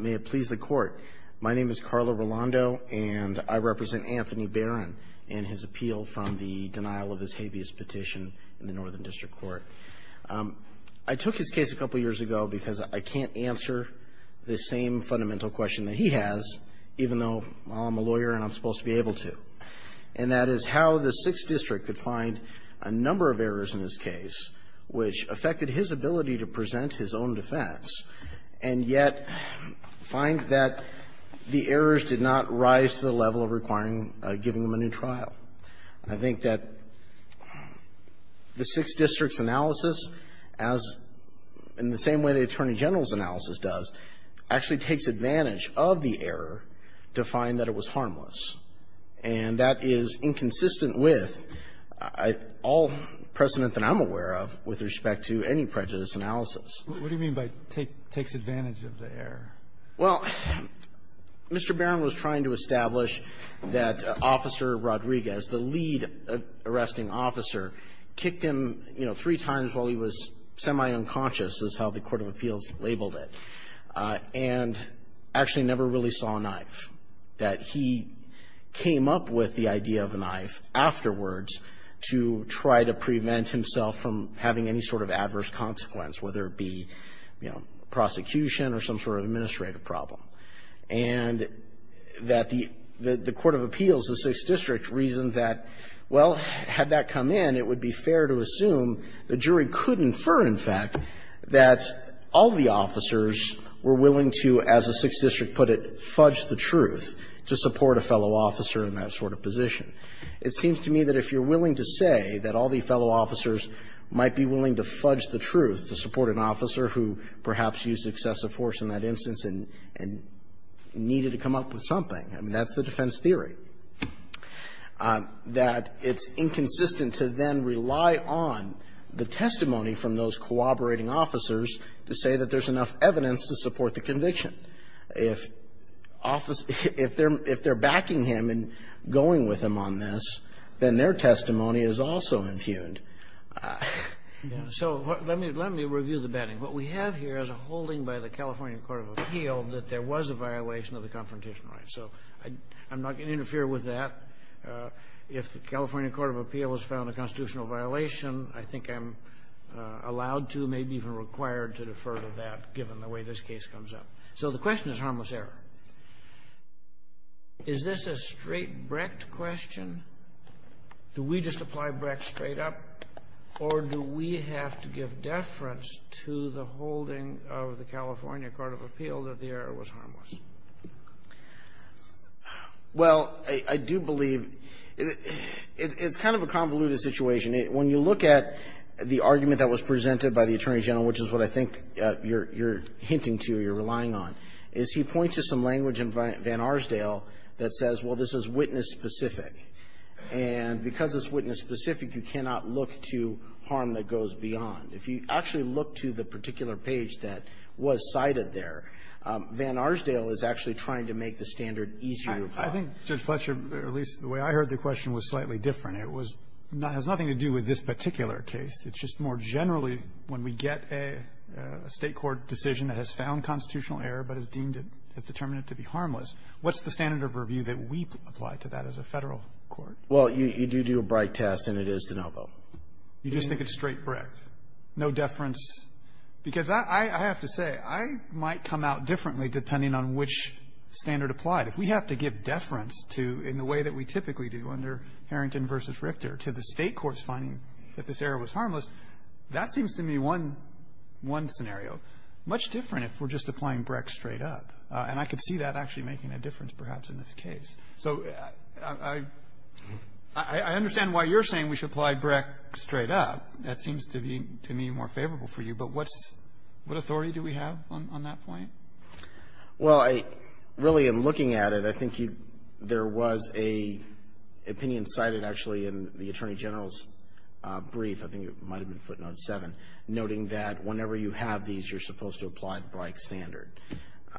May it please the Court. My name is Carlo Rolando, and I represent Anthony Barron in his appeal from the denial of his habeas petition in the Northern District Court. I took his case a couple years ago because I can't answer the same fundamental question that he has, even though I'm a lawyer and I'm supposed to be able to. And that is how the 6th District could find a number of errors in his case which affected his ability to present his own defense, and yet find that the errors did not rise to the level of requiring giving him a new trial. I think that the 6th District's analysis, as in the same way the Attorney General's analysis does, actually takes advantage of the error to find that it was harmless. And that is inconsistent with all precedent that I'm aware of with respect to any prejudice analysis. What do you mean by takes advantage of the error? Well, Mr. Barron was trying to establish that Officer Rodriguez, the lead arresting officer, kicked him, you know, three times while he was semi-unconscious, is how the court of appeals labeled it, and actually never really saw a knife. That he came up with the idea of a knife afterwards to try to prevent himself from having any sort of adverse consequence, whether it be, you know, prosecution or some sort of administrative problem. And that the court of appeals, the 6th District, reasoned that, well, had that come in, it would be fair to assume the jury could infer, in fact, that all the officers were willing to, as the 6th District put it, fudge the truth to support a fellow officer in that sort of position. It seems to me that if you're willing to say that all the fellow officers might be willing to fudge the truth to support an officer who perhaps used excessive force in that instance and needed to come up with something, I mean, that's the defense theory. That it's inconsistent to then rely on the testimony from those cooperating officers to say that there's enough evidence to support the conviction. If office – if they're backing him and going with him on this, then their testimony is also impugned. So let me review the batting. What we have here is a holding by the California court of appeal that there was a violation of the confrontation right. So I'm not going to interfere with that. If the California court of appeal has found a constitutional violation, I think I'm allowed to, maybe even required to, defer to that, given the way this case comes up. So the question is harmless error. Is this a straight Brecht question? Do we just apply Brecht straight up, or do we have to give deference to the holding of the California court of appeal that the error was harmless? Well, I do believe it's kind of a convoluted situation. When you look at the argument that was presented by the Attorney General, which is what I think you're hinting to, you're relying on, is he points to some language in Van Arsdale that says, well, this is witness-specific. And because it's witness-specific, you cannot look to harm that goes beyond. If you actually look to the particular page that was cited there, Van Arsdale is actually trying to make the standard easier to apply. I think, Judge Fletcher, at least the way I heard the question was slightly different. It was not – has nothing to do with this particular case. It's just more generally, when we get a State court decision that has found constitutional error but has deemed it – has determined it to be harmless, what's the standard of review that we apply to that as a Federal court? Well, you do do a Brecht test, and it is de novo. You just think it's straight Brecht, no deference? Because I have to say, I might come out differently depending on which standard applied. If we have to give deference to – in the way that we typically do under Harrington v. Richter, to the State court's finding that this error was harmless, that seems to me one – one scenario. Much different if we're just applying Brecht straight up. And I could see that actually making a difference, perhaps, in this case. So I – I understand why you're saying we should apply Brecht straight up. That seems to be, to me, more favorable for you. But what's – what authority do we have on that point? Well, I – really, in looking at it, I think you – there was a opinion cited, actually, in the Attorney General's brief. I think it might have been footnote 7, noting that whenever you have these, you're supposed to apply the Brecht standard.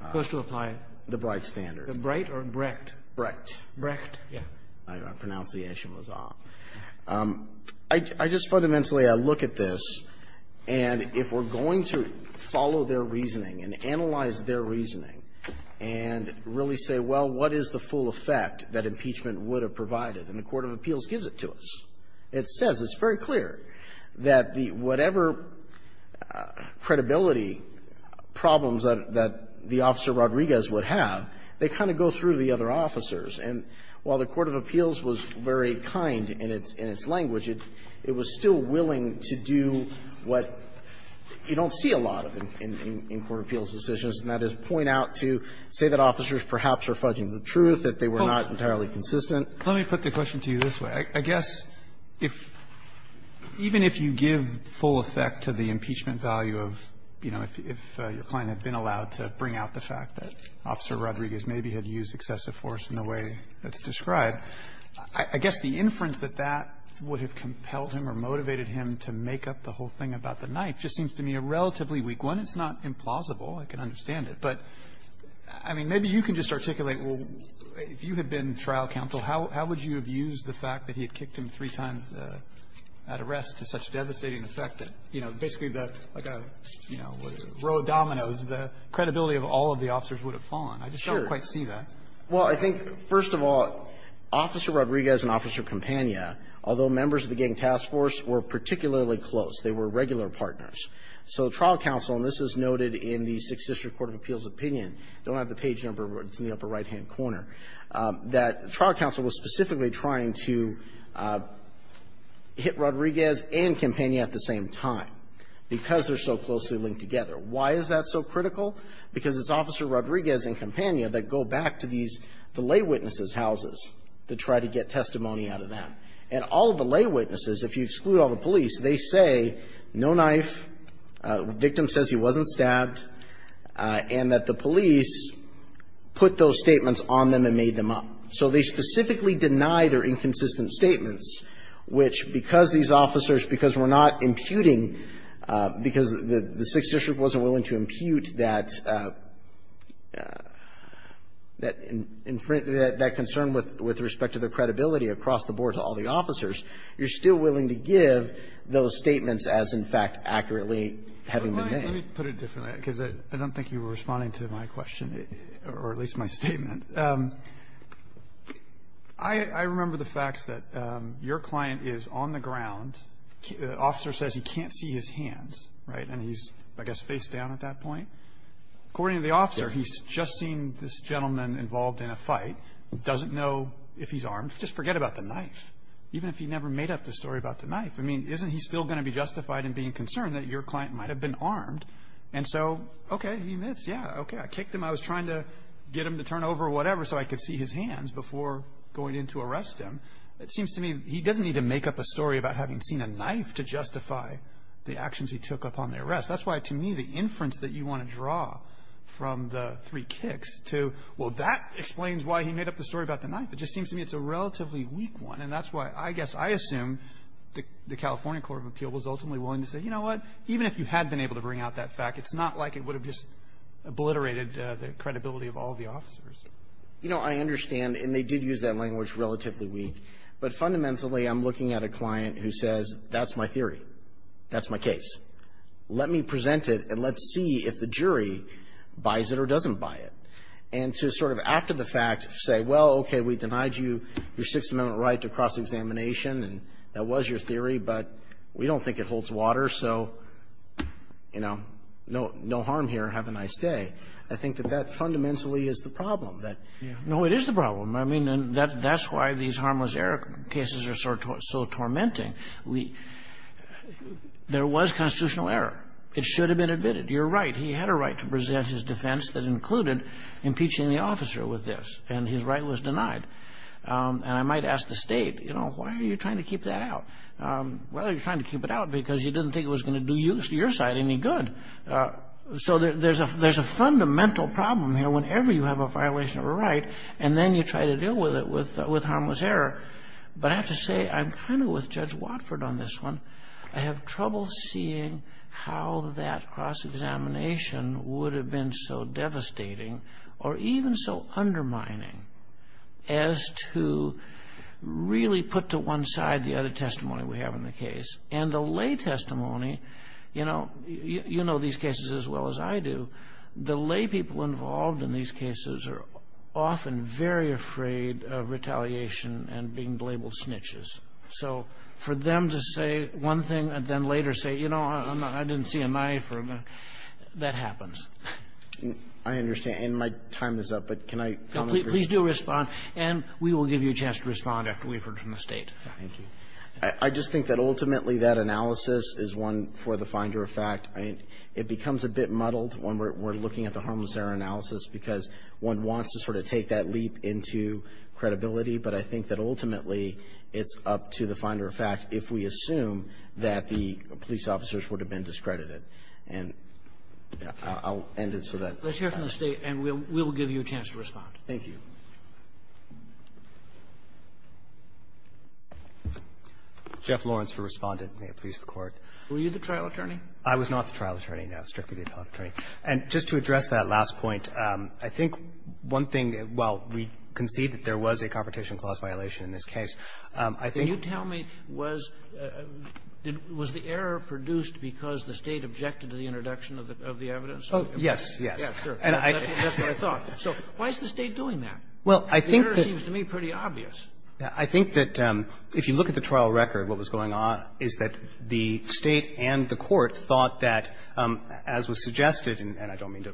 Supposed to apply? The Brecht standard. The Brecht or Brecht? Brecht. Brecht? Yeah. I pronounce the H in Mazah. I just fundamentally – I look at this, and if we're going to follow their reasoning and analyze their reasoning and really say, well, what is the full effect that impeachment would have provided? And the court of appeals gives it to us. It says, it's very clear that the – whatever credibility problems that – that the officer Rodriguez would have, they kind of go through the other officers. And while the court of appeals was very kind in its – in its language, it – it was still willing to do what you don't see a lot of in – in court of appeals decisions, and that is point out to say that officers perhaps are fudging the truth, that they were not entirely consistent. Let me put the question to you this way. I guess if – even if you give full effect to the impeachment value of, you know, if your client had been allowed to bring out the fact that Officer Rodriguez maybe had used excessive force in the way that's described, I guess the inference that that would have compelled him or motivated him to make up the whole thing about the knife just seems to me a relatively weak one. It's not implausible, I can understand it, but, I mean, maybe you can just articulate if you had been trial counsel, how would you have used the fact that he had kicked him three times at arrest to such devastating effect that, you know, basically the, like a, you know, row of dominoes, the credibility of all of the officers would have fallen. I just don't quite see that. Well, I think, first of all, Officer Rodriguez and Officer Campagna, although members of the gang task force were particularly close, they were regular partners. So trial counsel, and this is noted in the Sixth District Court of Appeals opinion – don't have the page number, but it's in the upper right-hand corner – that trial counsel was specifically trying to hit Rodriguez and Campagna at the same time because they're so closely linked together. Why is that so critical? Because it's Officer Rodriguez and Campagna that go back to these, the lay witnesses' houses to try to get testimony out of them. And all of the lay witnesses, if you exclude all the police, they say, no knife, the victim says he wasn't stabbed, and that the police put those statements on them and made them up. So they specifically deny their inconsistent statements, which, because these officers, because we're not imputing, because the Sixth District wasn't willing to impute that concern with respect to the credibility across the board to all the officers, you're still willing to give those statements as, in fact, accurately having been made. Let me put it differently, because I don't think you were responding to my question or at least my statement. I remember the facts that your client is on the ground. The officer says he can't see his hands, right? And he's, I guess, facedown at that point. According to the officer, he's just seen this gentleman involved in a fight, doesn't know if he's armed. Just forget about the knife, even if he never made up the story about the knife. I mean, isn't he still going to be justified in being concerned that your client might have been armed? And so, okay, he admits, yeah, okay, I kicked him. I was trying to get him to turn over whatever so I could see his hands before going in to arrest him. It seems to me he doesn't need to make up a story about having seen a knife to justify the actions he took upon the arrest. That's why, to me, the inference that you want to draw from the three kicks to, well, that explains why he made up the story about the knife. It just seems to me it's a relatively weak one. And that's why, I guess, I assume the California Court of Appeal was ultimately willing to say, you know what, even if you had been able to bring out that fact, it's not like it would have just obliterated the credibility of all the officers. You know, I understand, and they did use that language, relatively weak. But fundamentally, I'm looking at a client who says, that's my theory. That's my case. Let me present it, and let's see if the jury buys it or doesn't buy it. And to sort of, after the fact, say, well, okay, we denied you your Sixth Amendment right to cross-examination, and that was your theory. But we don't think it holds water. So, you know, no harm here. Have a nice day. I think that that fundamentally is the problem. That no, it is the problem. I mean, that's why these harmless error cases are so tormenting. We – there was constitutional error. It should have been admitted. You're right. He had a right to present his defense that included impeaching the officer with this, and his right was denied. And I might ask the State, you know, why are you trying to keep that out? Why are you trying to keep it out? Because you didn't think it was going to do your side any good. So there's a fundamental problem here whenever you have a violation of a right, and then you try to deal with it with harmless error. But I have to say, I'm kind of with Judge Watford on this one. I have trouble seeing how that cross-examination would have been so devastating or even so undermining as to really put to one side the other testimony we have in the case. And the lay testimony, you know, you know these cases as well as I do. The lay people involved in these cases are often very afraid of retaliation and being labeled snitches. So for them to say one thing and then later say, you know, I didn't see a knife, or that happens. I understand. And my time is up, but can I comment? Please do respond. And we will give you a chance to respond after we've heard from the State. Thank you. I just think that ultimately that analysis is one for the finder of fact. I mean, it becomes a bit muddled when we're looking at the harmless error analysis because one wants to sort of take that leap into credibility. But I think that ultimately it's up to the finder of fact if we assume that the police officers would have been discredited. And I'll end it so that. Let's hear from the State, and we'll give you a chance to respond. Thank you. Jeff Lawrence for Respondent. May it please the Court. Were you the trial attorney? I was not the trial attorney, no. Strictly the appellate attorney. And just to address that last point, I think one thing that, while we concede that there was a competition clause violation in this case, I think. Can you tell me, was the error produced because the State objected to the introduction of the evidence? Oh, yes. Yes. Yeah, sure. That's what I thought. So why is the State doing that? Well, I think that. The error seems to me pretty obvious. I think that if you look at the trial record, what was going on is that the State and the Court thought that, as was suggested, and I don't mean to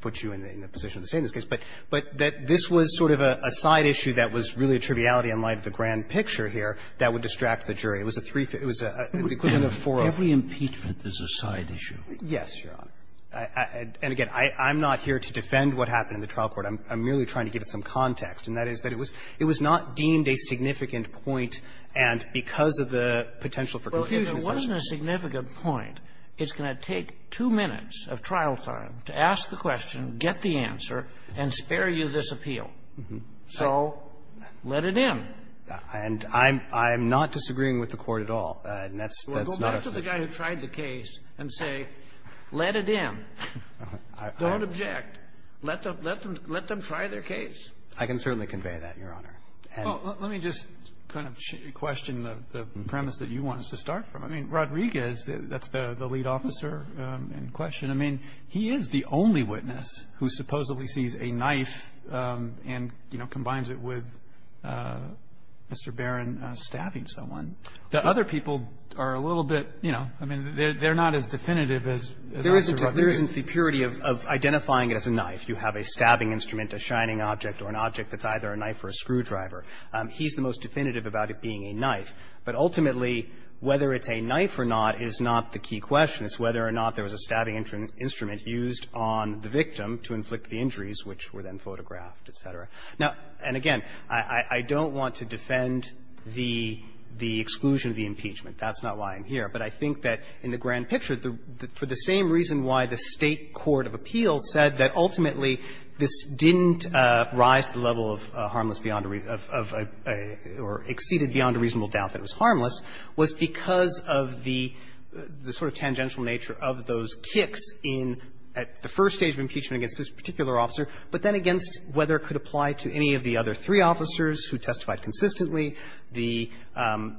put you in a position of the State in this case, but that this was sort of a side issue that was really a triviality in light of the grand picture here that would distract the jury. It was a threefold. Every impeachment is a side issue. Yes, Your Honor. And again, I'm not here to defend what happened in the trial court. I'm merely trying to give it some context. And that is that it was not deemed a significant point, and because of the potential for confusion. If there wasn't a significant point, it's going to take two minutes of trial time to ask the question, get the answer, and spare you this appeal. So let it in. And I'm not disagreeing with the Court at all. And that's not a. Well, go back to the guy who tried the case and say, let it in. Don't object. Let them try their case. I can certainly convey that, Your Honor. Well, let me just kind of question the premise that you want us to start from. I mean, Rodriguez, that's the lead officer in question. I mean, he is the only witness who supposedly sees a knife and, you know, combines it with Mr. Barron stabbing someone. The other people are a little bit, you know, I mean, they're not as definitive as Dr. Rodriguez. There isn't the purity of identifying it as a knife. You have a stabbing instrument, a shining object, or an object that's either a knife or a screwdriver. He's the most definitive about it being a knife. But ultimately, whether it's a knife or not is not the key question. It's whether or not there was a stabbing instrument used on the victim to inflict the injuries, which were then photographed, et cetera. Now, and again, I don't want to defend the exclusion of the impeachment. That's not why I'm here. But I think that in the grand picture, for the same reason why the State court of appeal has said that ultimately this didn't rise to the level of harmless beyond a reason of a or exceeded beyond a reasonable doubt that it was harmless, was because of the sort of tangential nature of those kicks in at the first stage of impeachment against this particular officer, but then against whether it could apply to any of the other three officers who testified consistently, the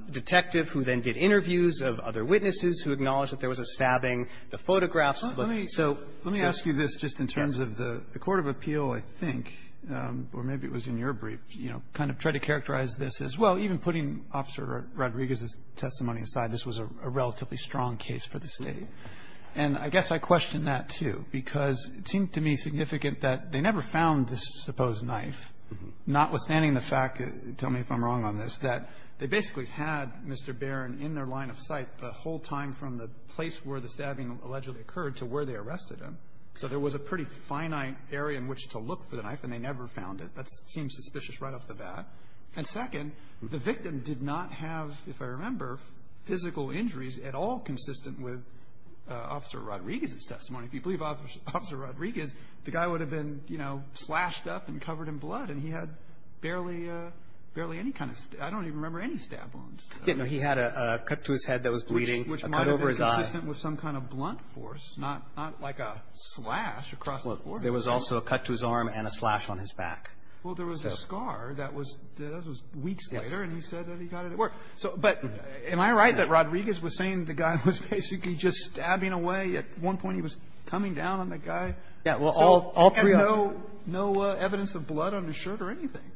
detective who then did interviews of other witnesses who acknowledged that there was a stabbing, the photographs. So let me ask you this just in terms of the court of appeal, I think, or maybe it was in your brief, you know, kind of try to characterize this as, well, even putting Officer Rodriguez's testimony aside, this was a relatively strong case for the State. And I guess I question that, too, because it seemed to me significant that they never found this supposed knife, notwithstanding the fact, tell me if I'm wrong on this, that they basically had Mr. Barron in their line of sight the whole time from the place where the stabbing allegedly occurred to where they arrested him. So there was a pretty finite area in which to look for the knife, and they never found it. That seems suspicious right off the bat. And second, the victim did not have, if I remember, physical injuries at all consistent with Officer Rodriguez's testimony. If you believe Officer Rodriguez, the guy would have been, you know, slashed up and covered in blood, and he had barely any kind of stab – I don't even remember any stab wounds. No. He had a cut to his head that was bleeding, a cut over his eye. Which might have been consistent with some kind of blunt force, not like a slash across the forehead. There was also a cut to his arm and a slash on his back. Well, there was a scar that was weeks later, and he said that he got it at work. But am I right that Rodriguez was saying the guy was basically just stabbing away? At one point, he was coming down on the guy. Yeah. Well, all three of them. So he had no evidence of blood on his shirt or anything.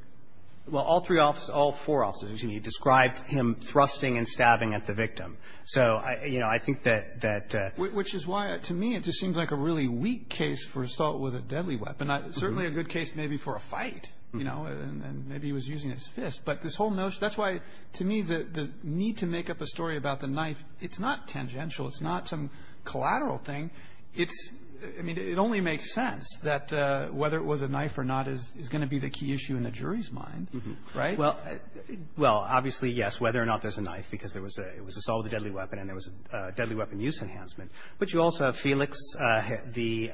Well, all three officers – all four officers, excuse me – described him thrusting and stabbing at the victim. So, you know, I think that – Which is why, to me, it just seems like a really weak case for assault with a deadly weapon. Certainly a good case maybe for a fight, you know, and maybe he was using his fist. But this whole notion – that's why, to me, the need to make up a story about the knife, it's not tangential. It's not some collateral thing. It's – I mean, it only makes sense that whether it was a knife or not is going to be the key issue in the jury's mind, right? Well, obviously, yes, whether or not there's a knife, because there was a – it was assault with a deadly weapon, and there was a deadly weapon use enhancement. But you also have Felix, the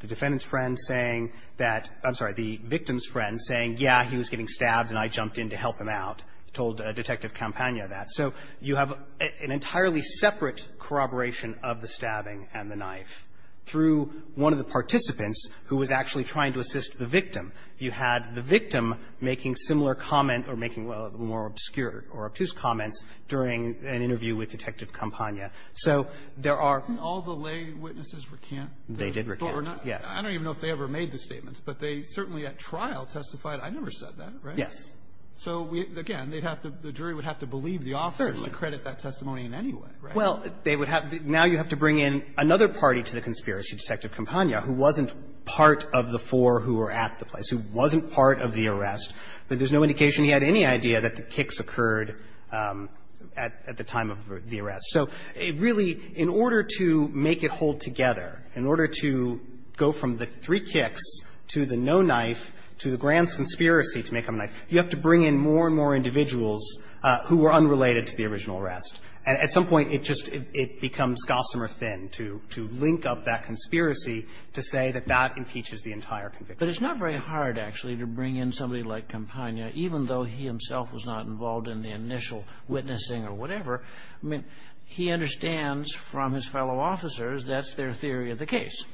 defendant's friend, saying that – I'm sorry, the victim's friend saying, yeah, he was getting stabbed, and I jumped in to help him out, told Detective Campagna that. So you have an entirely separate corroboration of the stabbing and the knife through one of the participants who was actually trying to assist the victim. You had the victim making similar comment or making more obscure or obtuse comments during an interview with Detective Campagna. So there are – Didn't all the lay witnesses recant? They did recant, yes. I don't even know if they ever made the statements, but they certainly at trial testified – I never said that, right? Yes. So again, they'd have to – the jury would have to believe the officers to credit that testimony in any way, right? Well, they would have – now you have to bring in another party to the conspiracy to Detective Campagna who wasn't part of the four who were at the place, who wasn't part of the arrest, but there's no indication he had any idea that the kicks occurred at the time of the arrest. So really, in order to make it hold together, in order to go from the three kicks to the no knife to the grand conspiracy to make up a knife, you have to bring in more and more individuals who were unrelated to the original arrest. And at some point, it just – it becomes gossamer thin to – to link up that conspiracy to say that that impeaches the entire conviction. But it's not very hard, actually, to bring in somebody like Campagna, even though he himself was not involved in the initial witnessing or whatever. I mean, he understands from his fellow officers that's their theory of the case.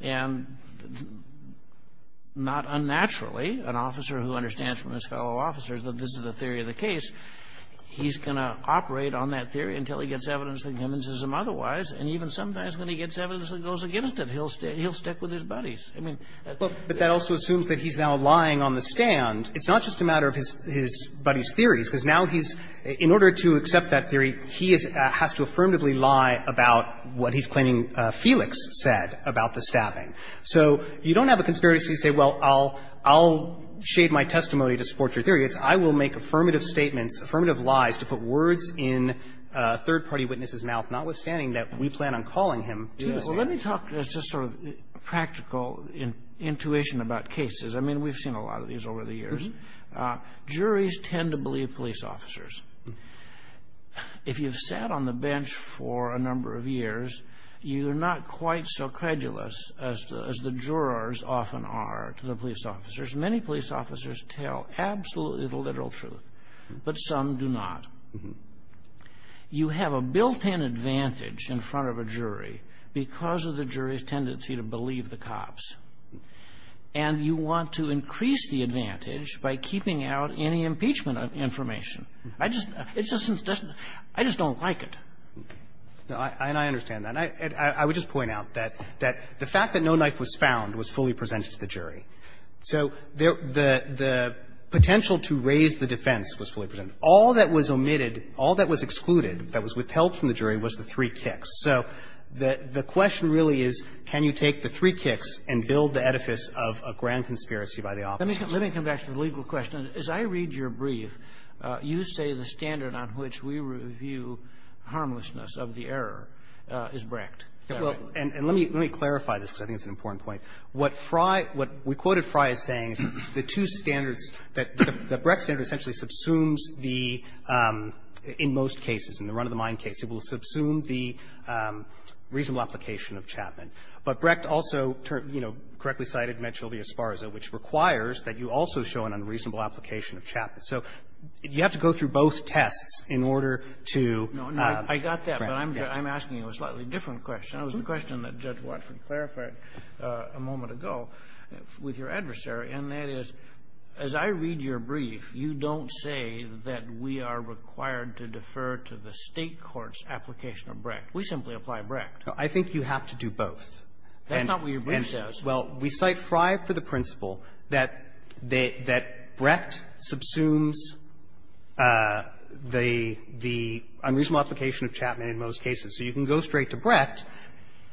And not unnaturally, an officer who understands from his fellow officers that this is the theory of the case, he can't rely on that theory until he gets evidence that convinces him otherwise. And even sometimes when he gets evidence that goes against it, he'll stick with his buddies. I mean, that's the case. But that also assumes that he's now lying on the stand. It's not just a matter of his buddy's theories, because now he's – in order to accept that theory, he has to affirmatively lie about what he's claiming Felix said about the stabbing. So you don't have a conspiracy to say, well, I'll – I'll shade my testimony to support your theory. It's I will make affirmative statements, affirmative lies to put words in a third-party witness's mouth, notwithstanding that we plan on calling him to the stand. Well, let me talk as just sort of practical intuition about cases. I mean, we've seen a lot of these over the years. Juries tend to believe police officers. If you've sat on the bench for a number of years, you're not quite so credulous as the jurors often are to the police officers. Many police officers tell absolutely the literal truth, but some do not. You have a built-in advantage in front of a jury because of the jury's tendency to believe the cops. And you want to increase the advantage by keeping out any impeachment information. I just – it just doesn't – I just don't like it. And I understand that. And I would just point out that the fact that no knife was found was fully presented to the jury. So the potential to raise the defense was fully presented. All that was omitted, all that was excluded, that was withheld from the jury, was the three kicks. So the question really is, can you take the three kicks and build the edifice of a grand conspiracy by the officers? Let me come back to the legal question. As I read your brief, you say the standard on which we review harmlessness of the error is brecked. Well, and let me clarify this, because I think it's an important point. What Frye – what we quoted Frye as saying is that the two standards, that the Brecht standard essentially subsumes the – in most cases, in the run-of-the-mind case, it will subsume the reasonable application of Chapman. But Brecht also, you know, correctly cited Medchel v. Esparza, which requires that you also show an unreasonable application of Chapman. So you have to go through both tests in order to – Kagan. I got that, but I'm asking you a slightly different question. That was the question that Judge Watford clarified a moment ago with your adversary. And that is, as I read your brief, you don't say that we are required to defer to the State court's application of Brecht. We simply apply Brecht. I think you have to do both. That's not what your brief says. Well, we cite Frye for the principle that they – that Brecht subsumes the – the unreasonable application of Chapman in most cases. So you can go straight to Brecht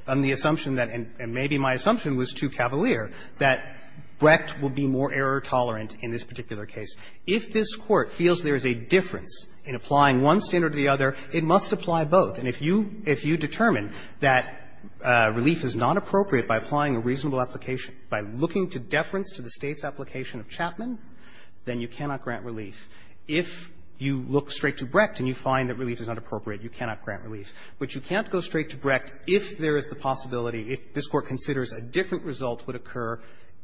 on the assumption that – and maybe my assumption was too cavalier – that Brecht will be more error-tolerant in this particular case. If this Court feels there is a difference in applying one standard to the other, it must apply both. And if you – if you determine that relief is not appropriate by applying a reasonable application, by looking to deference to the State's application of Chapman, then you cannot grant relief. If you look straight to Brecht and you find that relief is not appropriate, you cannot grant relief. But you can't go straight to Brecht if there is the possibility, if this Court considers a different result would occur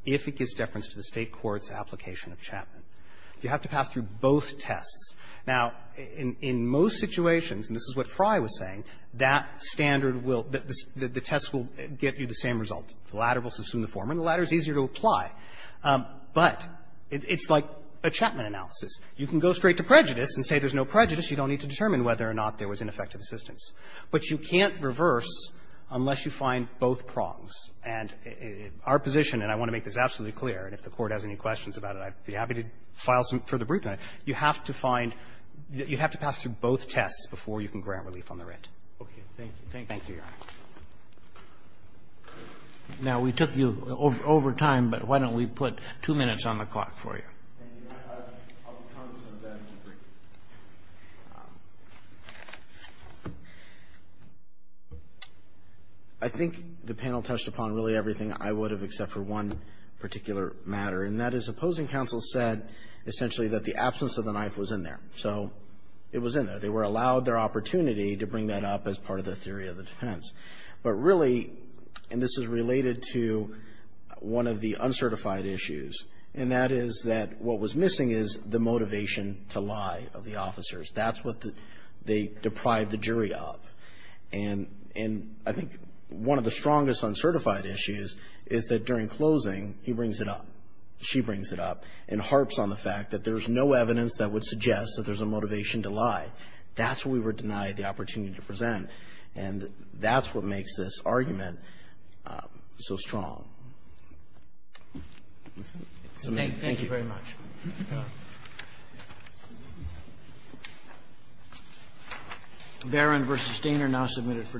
if it gives deference to the State court's application of Chapman. You have to pass through both tests. Now, in most situations, and this is what Frye was saying, that standard will – the test will get you the same result. The latter will subsume the former, and the latter is easier to apply. But it's like a Chapman analysis. You can go straight to prejudice and say there's no prejudice. You don't need to determine whether or not there was ineffective assistance. But you can't reverse unless you find both prongs. And our position, and I want to make this absolutely clear, and if the Court has any questions about it, I'd be happy to file some further briefing on it, you have to find – you have to pass through both tests before you can grant relief on the writ. Robertson, Thank you, Your Honor. Now, we took you over time, but why don't we put two minutes on the clock for you? I think the panel touched upon really everything I would have except for one particular matter, and that is opposing counsel said essentially that the absence of the knife was in there. So it was in there. They were allowed their opportunity to bring that up as part of the theory of the defense. But really, and this is related to one of the uncertified issues, and that is that what was missing is the motivation to lie of the officers. That's what they deprived the jury of. And I think one of the strongest uncertified issues is that during closing, he brings it up, she brings it up, and harps on the fact that there's no evidence that would suggest that there's a motivation to lie. That's where we were denied the opportunity to present. And that's what makes this argument so strong. Thank you very much. Barron v. Stainer now submitted for decision.